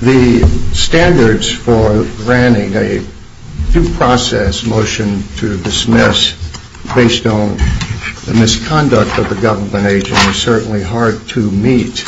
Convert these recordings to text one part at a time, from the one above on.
The standards for granting a due process motion to dismiss based on the misconduct of the government agent are certainly hard to meet.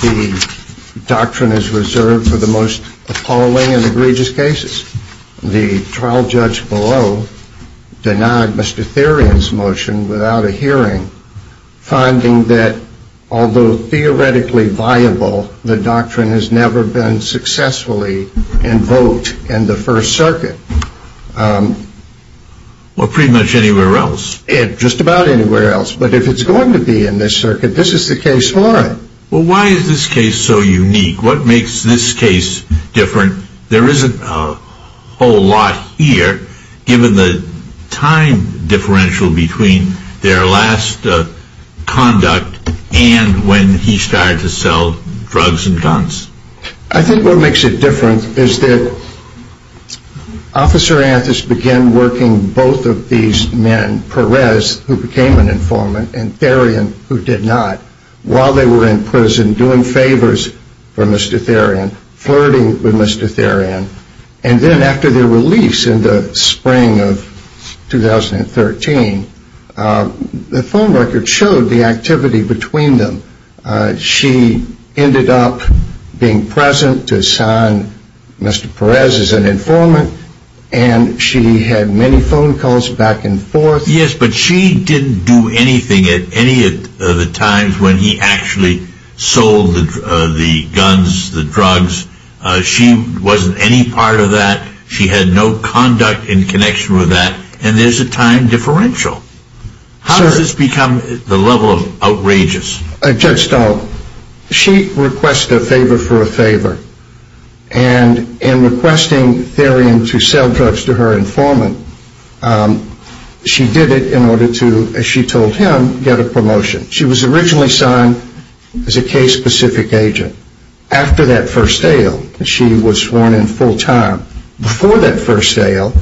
The doctrine is reserved for the most appalling and egregious cases. The trial judge below denied Mr. Therrien's motion without a hearing, finding that although theoretically viable, the doctrine has never been successfully invoked in the First Circuit. Well, pretty much anywhere else. Just about anywhere else. But if it's going to be in this circuit, this is the case for it. Well, why is this case so unique? What makes this case different? There isn't a whole lot here, given the time differential between their last conduct and when he started to sell drugs and guns. I think what makes it different is that Officer Anthis began working both of these men, Perez, who became an informant, and Therrien, who did not, while they were in prison, doing favors for Mr. Therrien, flirting with Mr. Therrien. And then after their release in the spring of 2013, the phone record showed the activity between them. She ended up being present to sign Mr. Perez as an informant, and she had many phone calls back and forth. Yes, but she didn't do anything at any of the times when he actually sold the guns, the drugs. She wasn't any part of that. She had no conduct in connection with that. And there's a time differential. How does this become the level of outrageous? Judge Stahl, she requested a favor for a favor, and in requesting Therrien to sell drugs to her informant, she did it in order to, as she told him, get a promotion. She was originally signed as a case-specific agent. After that first sale, she was sworn in full-time. Before that first sale,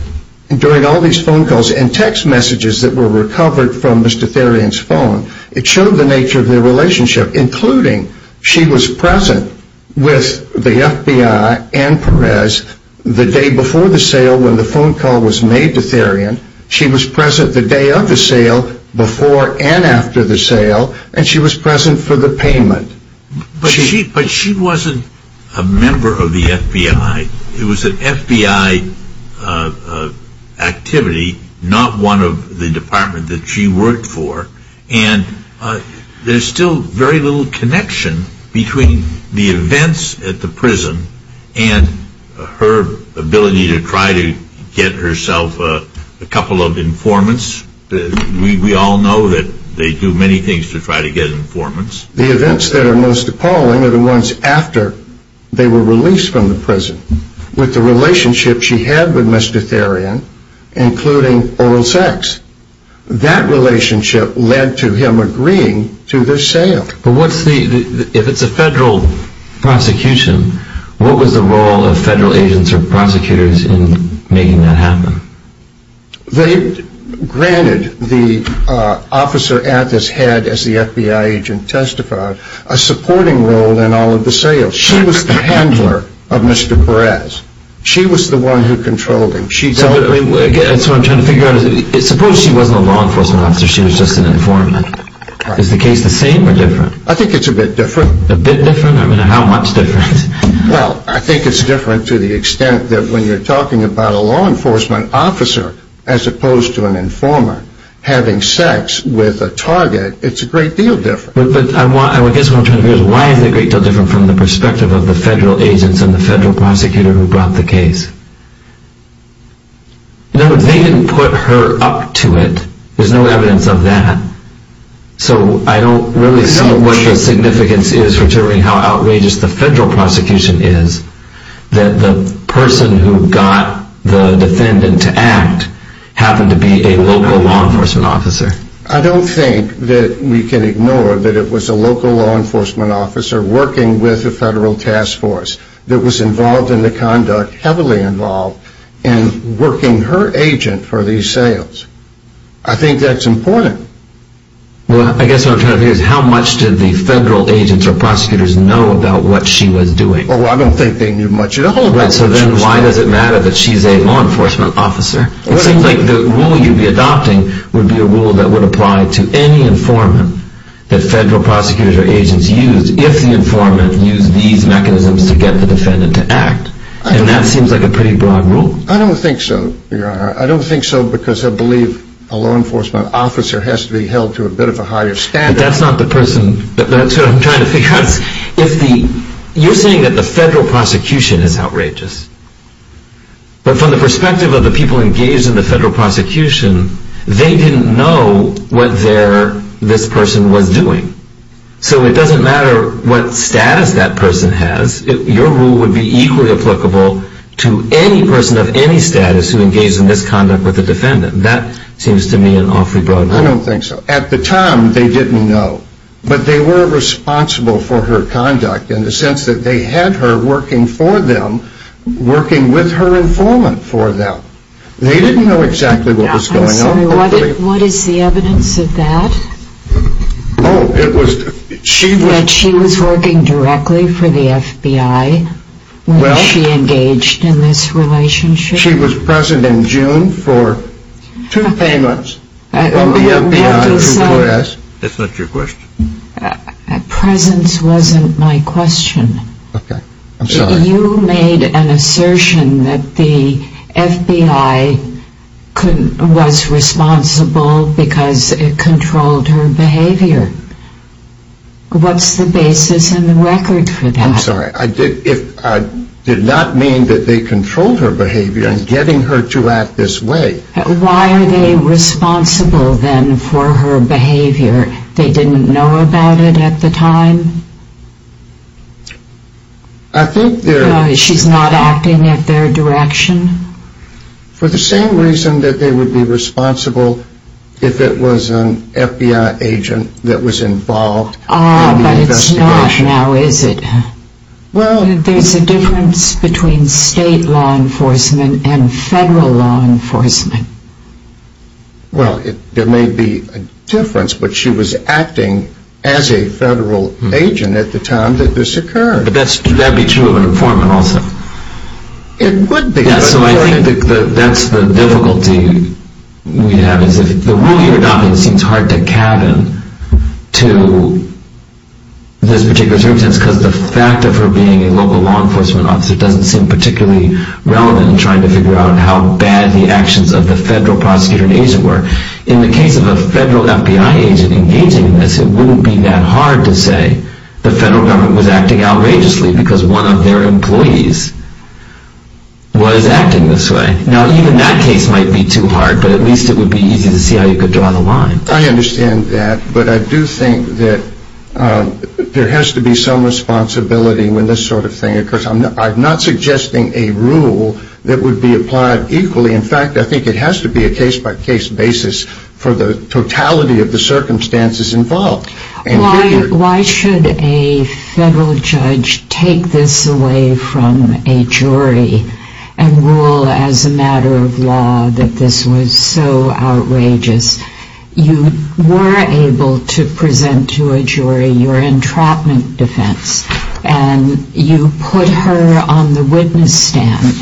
during all these phone calls and text messages that were recovered from Mr. Therrien's phone, it showed the nature of their relationship, including she was present with the FBI and Perez the day before the sale when the phone call was made to Therrien. She was present the day of the sale, before and after the sale, and she was present for the payment. But she wasn't a member of the FBI. It was an FBI activity, not one of the department that she worked for, and there's still very little connection between the events at the prison and her ability to try to get herself a couple of informants. We all know that they do many things to try to get informants. The events that are most appalling are the ones after they were released from the prison, with the relationship she had with Mr. Therrien, including oral sex. That relationship led to him agreeing to the sale. But what's the, if it's a federal prosecution, what was the role of federal agents or prosecutors in making that happen? They granted the officer at his head, as the FBI agent testified, a supporting role in all of the sales. She was the handler of Mr. Perez. She was the one who controlled him. So what I'm trying to figure out is, suppose she wasn't a law enforcement officer, she was just an informant. Is the case the same or different? I think it's a bit different. A bit different? I mean, how much different? Well, I think it's different to the extent that when you're talking about a law enforcement officer, as opposed to an informant, having sex with a target, it's a great deal different. But I guess what I'm trying to figure out is, why is it a great deal different from the perspective of the federal agents and the federal prosecutor who brought the case? No, they didn't put her up to it. There's no evidence of that. So I don't really see what the significance is, considering how outrageous the federal prosecution is, that the person who got the defendant to act happened to be a local law enforcement officer. I don't think that we can ignore that it was a local law enforcement officer working with the federal task force that was involved in the conduct, heavily involved, in working her agent for these sales. I think that's important. Well, I guess what I'm trying to figure out is, how much did the federal agents or prosecutors know about what she was doing? Well, I don't think they knew much at all about what she was doing. Right, so then why does it matter that she's a law enforcement officer? It seems like the rule you'd be adopting would be a rule that would apply to any informant that federal prosecutors or agents use, if the informant used these mechanisms to get the defendant to act. And that seems like a pretty broad rule. I don't think so, Your Honor. I don't think so because I believe a law enforcement officer has to be held to a bit of a higher standard. That's what I'm trying to figure out. You're saying that the federal prosecution is outrageous. But from the perspective of the people engaged in the federal prosecution, they didn't know what this person was doing. So it doesn't matter what status that person has, your rule would be equally applicable to any person of any status who engaged in this conduct with the defendant. That seems to me an awfully broad rule. I don't think so. At the time, they didn't know. But they were responsible for her conduct in the sense that they had her working for them, working with her informant for them. They didn't know exactly what was going on. I'm sorry, what is the evidence of that? Oh, it was... That she was working directly for the FBI when she engaged in this relationship? That she was present in June for two payments from the FBI to the U.S.? That's not your question. Presence wasn't my question. Okay, I'm sorry. You made an assertion that the FBI was responsible because it controlled her behavior. What's the basis in the record for that? I'm sorry, I did not mean that they controlled her behavior in getting her to act this way. Why are they responsible then for her behavior? They didn't know about it at the time? I think they're... She's not acting at their direction? For the same reason that they would be responsible if it was an FBI agent that was involved in the investigation. It's not now, is it? Well... There's a difference between state law enforcement and federal law enforcement. Well, there may be a difference, but she was acting as a federal agent at the time that this occurred. But that would be true of an informant also? It would be. Yeah, so I think that's the difficulty we have. The rule you're adopting seems hard to cabin to this particular circumstance because the fact of her being a local law enforcement officer doesn't seem particularly relevant in trying to figure out how bad the actions of the federal prosecutor and agent were. In the case of a federal FBI agent engaging in this, it wouldn't be that hard to say the federal government was acting outrageously because one of their employees was acting this way. Now, even that case might be too hard, but at least it would be easy to see how you could draw the line. I understand that, but I do think that there has to be some responsibility when this sort of thing occurs. I'm not suggesting a rule that would be applied equally. In fact, I think it has to be a case-by-case basis for the totality of the circumstances involved. Why should a federal judge take this away from a jury and rule as a matter of law that this was so outrageous? You were able to present to a jury your entrapment defense, and you put her on the witness stand,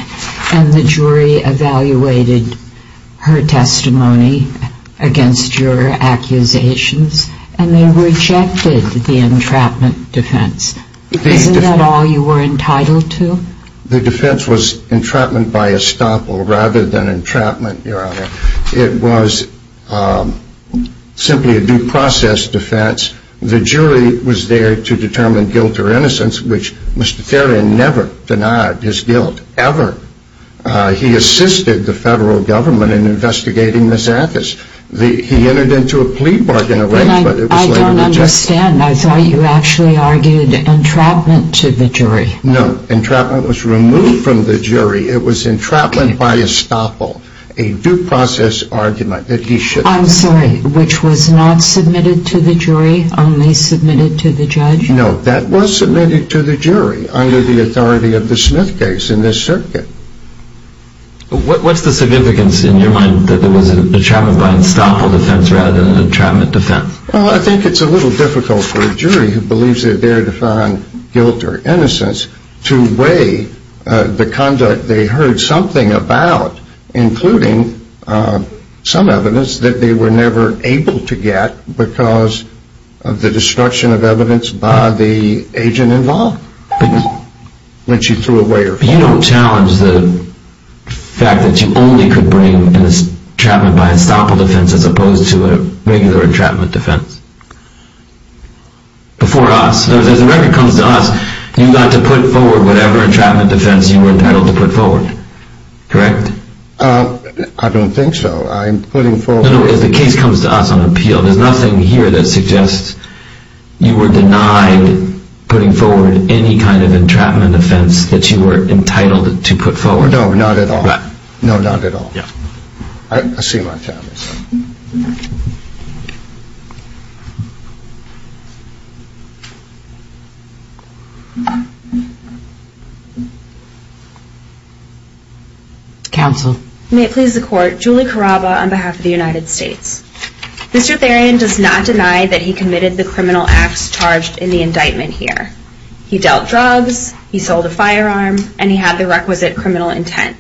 and the jury evaluated her testimony against your accusations, and they rejected the entrapment defense. Isn't that all you were entitled to? The defense was entrapment by estoppel rather than entrapment, Your Honor. It was simply a due process defense. The jury was there to determine guilt or innocence, which Mr. Therrien never denied his guilt, ever. He assisted the federal government in investigating this act. He entered into a plea bargain, but it was later rejected. I don't understand. I thought you actually argued entrapment to the jury. No, entrapment was removed from the jury. It was entrapment by estoppel, a due process argument that he should not have made. I'm sorry, which was not submitted to the jury, only submitted to the judge? No, that was submitted to the jury under the authority of the Smith case in this circuit. What's the significance in your mind that it was entrapment by estoppel defense rather than entrapment defense? Well, I think it's a little difficult for a jury who believes they're there to find guilt or innocence to weigh the conduct they heard something about, including some evidence, that they were never able to get because of the destruction of evidence by the agent involved when she threw away her phone. You don't challenge the fact that you only could bring entrapment by estoppel defense as opposed to a regular entrapment defense? Before us, as the record comes to us, you got to put forward whatever entrapment defense you were entitled to put forward, correct? I don't think so. I'm putting forward... No, no, as the case comes to us on appeal, there's nothing here that suggests you were denied putting forward any kind of entrapment defense that you were entitled to put forward. No, not at all. No, not at all. I see my time is up. Counsel. May it please the court, Julie Caraba on behalf of the United States. Mr. Therian does not deny that he committed the criminal acts charged in the indictment here. He dealt drugs, he sold a firearm, and he had the requisite criminal intent.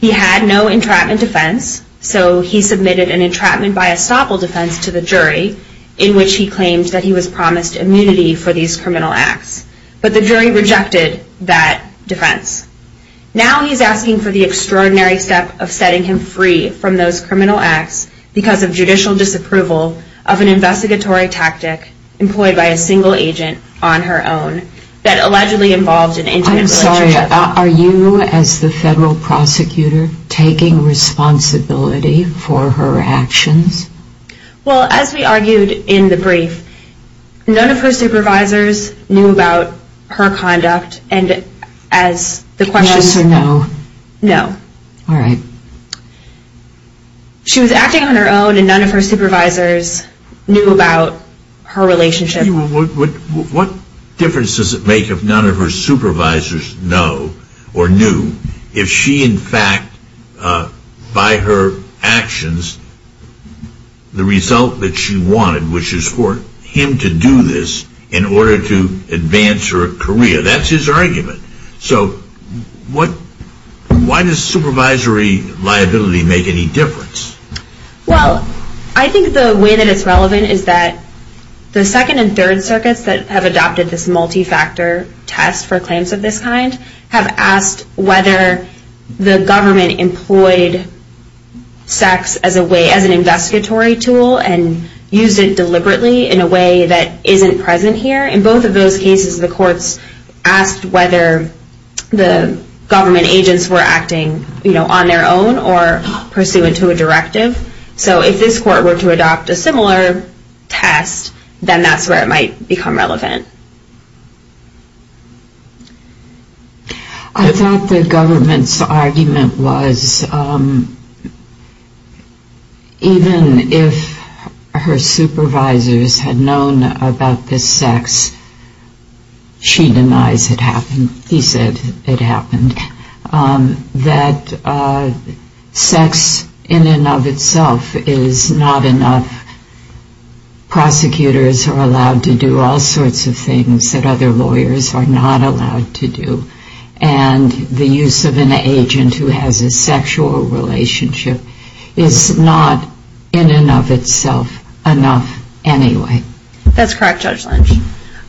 He had no entrapment defense, so he submitted an entrapment by estoppel defense to the jury in which he claimed that he was promised immunity for these criminal acts. But the jury rejected that defense. Now he's asking for the extraordinary step of setting him free from those criminal acts because of judicial disapproval of an investigatory tactic employed by a single agent on her own that allegedly involved an intimate relationship. I'm sorry, are you, as the federal prosecutor, taking responsibility for her actions? Well, as we argued in the brief, none of her supervisors knew about her conduct, and as the question Yes or no? No. All right. She was acting on her own, and none of her supervisors knew about her relationship. What difference does it make if none of her supervisors know or knew if she, in fact, by her actions, the result that she wanted, which is for him to do this in order to advance her career. That's his argument. So why does supervisory liability make any difference? Well, I think the way that it's relevant is that the Second and Third Circuits that have adopted this multi-factor test for claims of this kind have asked whether the government employed sex as an investigatory tool and used it deliberately in a way that isn't present here. In both of those cases, the courts asked whether the government agents were acting on their own or pursuant to a directive. So if this court were to adopt a similar test, then that's where it might become relevant. I thought the government's argument was even if her supervisors had known about this sex, she denies it happened. He said it happened. He said that sex in and of itself is not enough. Prosecutors are allowed to do all sorts of things that other lawyers are not allowed to do. And the use of an agent who has a sexual relationship is not in and of itself enough anyway. That's correct, Judge Lynch.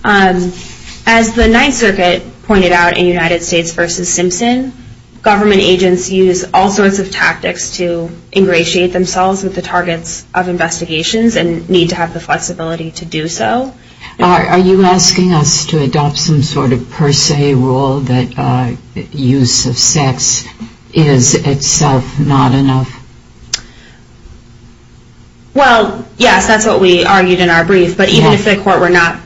As the Ninth Circuit pointed out in United States v. Simpson, government agents use all sorts of tactics to ingratiate themselves with the targets of investigations and need to have the flexibility to do so. Are you asking us to adopt some sort of per se rule that use of sex is in itself not enough? Well, yes, that's what we argued in our brief. But even if the court were not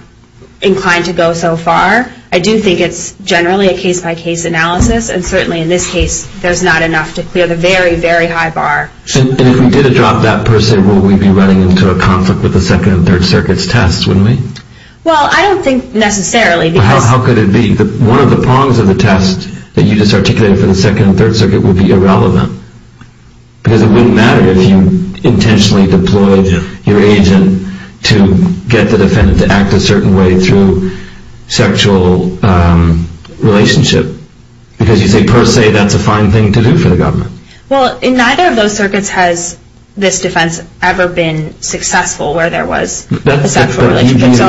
inclined to go so far, I do think it's generally a case-by-case analysis. And certainly in this case, there's not enough to clear the very, very high bar. And if we did adopt that per se rule, we'd be running into a conflict with the Second and Third Circuit's test, wouldn't we? Well, I don't think necessarily. How could it be? One of the prongs of the test that you just articulated for the Second and Third Circuit would be irrelevant. Because it wouldn't matter if you intentionally deployed your agent to get the defendant to act a certain way through sexual relationship. Because you say per se, that's a fine thing to do for the government. Well, in neither of those circuits has this defense ever been successful where there was a sexual relationship.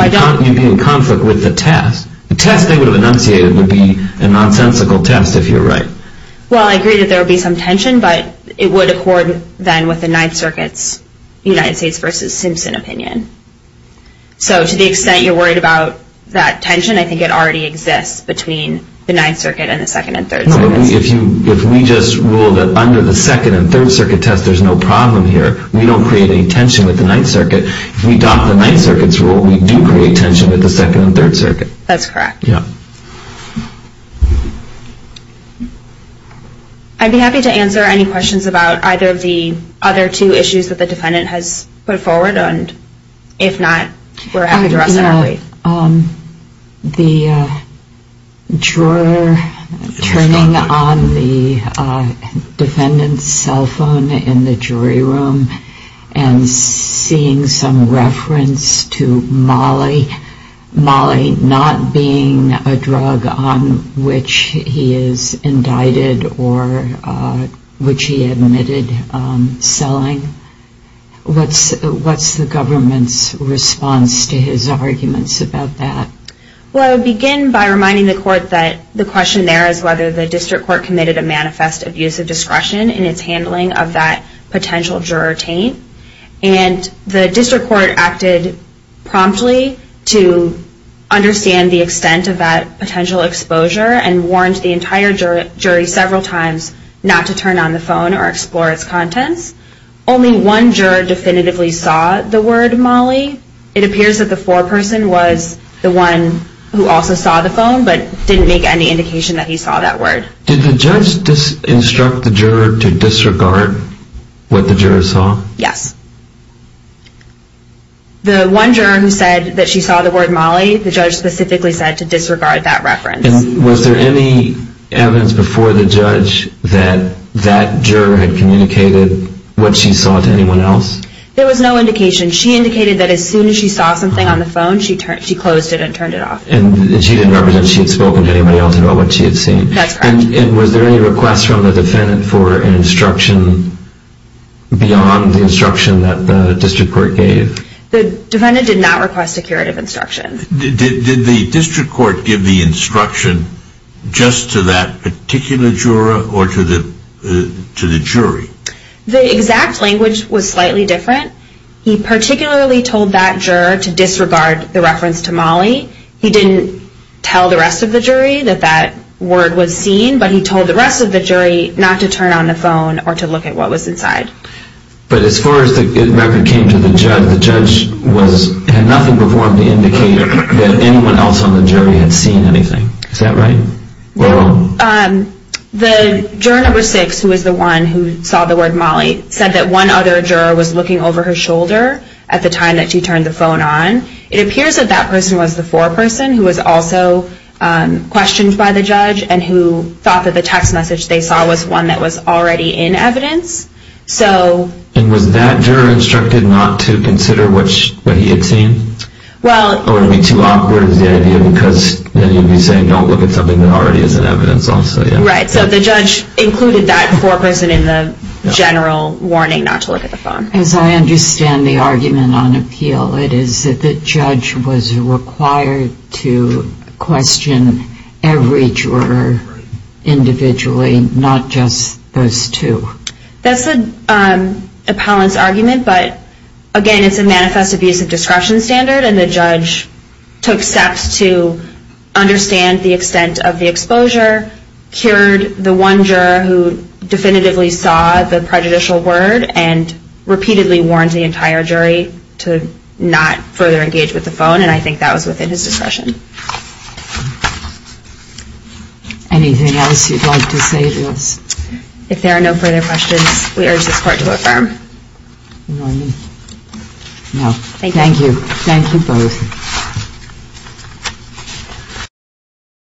You'd be in conflict with the test. The test they would have enunciated would be a nonsensical test, if you're right. Well, I agree that there would be some tension, but it would accord then with the Ninth Circuit's United States v. Simpson opinion. So to the extent you're worried about that tension, I think it already exists between the Ninth Circuit and the Second and Third Circuits. If we just rule that under the Second and Third Circuit test there's no problem here, we don't create any tension with the Ninth Circuit. If we adopt the Ninth Circuit's rule, we do create tension with the Second and Third Circuit. That's correct. I'd be happy to answer any questions about either of the other two issues that the defendant has put forward, and if not, we're happy to respond. The juror turning on the defendant's cell phone in the jury room and seeing some reference to molly not being a drug on which he is indicted or which he admitted selling, what's the government's response to his arguments about that? Well, I would begin by reminding the court that the question there is whether the district court committed a manifest abuse of discretion in its handling of that potential juror taint, and the district court acted promptly to understand the extent of that potential exposure and warned the entire jury several times not to turn on the phone or explore its contents. Only one juror definitively saw the word molly. It appears that the foreperson was the one who also saw the phone but didn't make any indication that he saw that word. Did the judge instruct the juror to disregard what the juror saw? Yes. The one juror who said that she saw the word molly, the judge specifically said to disregard that reference. And was there any evidence before the judge that that juror had communicated what she saw to anyone else? There was no indication. She indicated that as soon as she saw something on the phone, she closed it and turned it off. And she didn't represent she had spoken to anyone else about what she had seen. That's correct. And was there any request from the defendant for an instruction beyond the instruction that the district court gave? The defendant did not request a curative instruction. Did the district court give the instruction just to that particular juror or to the jury? The exact language was slightly different. He particularly told that juror to disregard the reference to molly. He didn't tell the rest of the jury that that word was seen, but he told the rest of the jury not to turn on the phone or to look at what was inside. But as far as the record came to, the judge had nothing before him to indicate that anyone else on the jury had seen anything. Is that right? The juror number six, who was the one who saw the word molly, said that one other juror was looking over her shoulder at the time that she turned the phone on. It appears that that person was the foreperson who was also questioned by the judge and who thought that the text message they saw was one that was already in evidence. And was that juror instructed not to consider what he had seen? Or would it be too awkward as the idea because then you'd be saying don't look at something that already is in evidence also? Right. So the judge included that foreperson in the general warning not to look at the phone. As I understand the argument on appeal, it is that the judge was required to question every juror individually, not just those two. That's the appellant's argument. But again, it's a manifest abuse of discretion standard, and the judge took steps to understand the extent of the exposure, cured the one juror who definitively saw the prejudicial word, and repeatedly warned the entire jury to not further engage with the phone, and I think that was within his discretion. Anything else you'd like to say to us? If there are no further questions, we urge this Court to affirm. Thank you. Thank you both.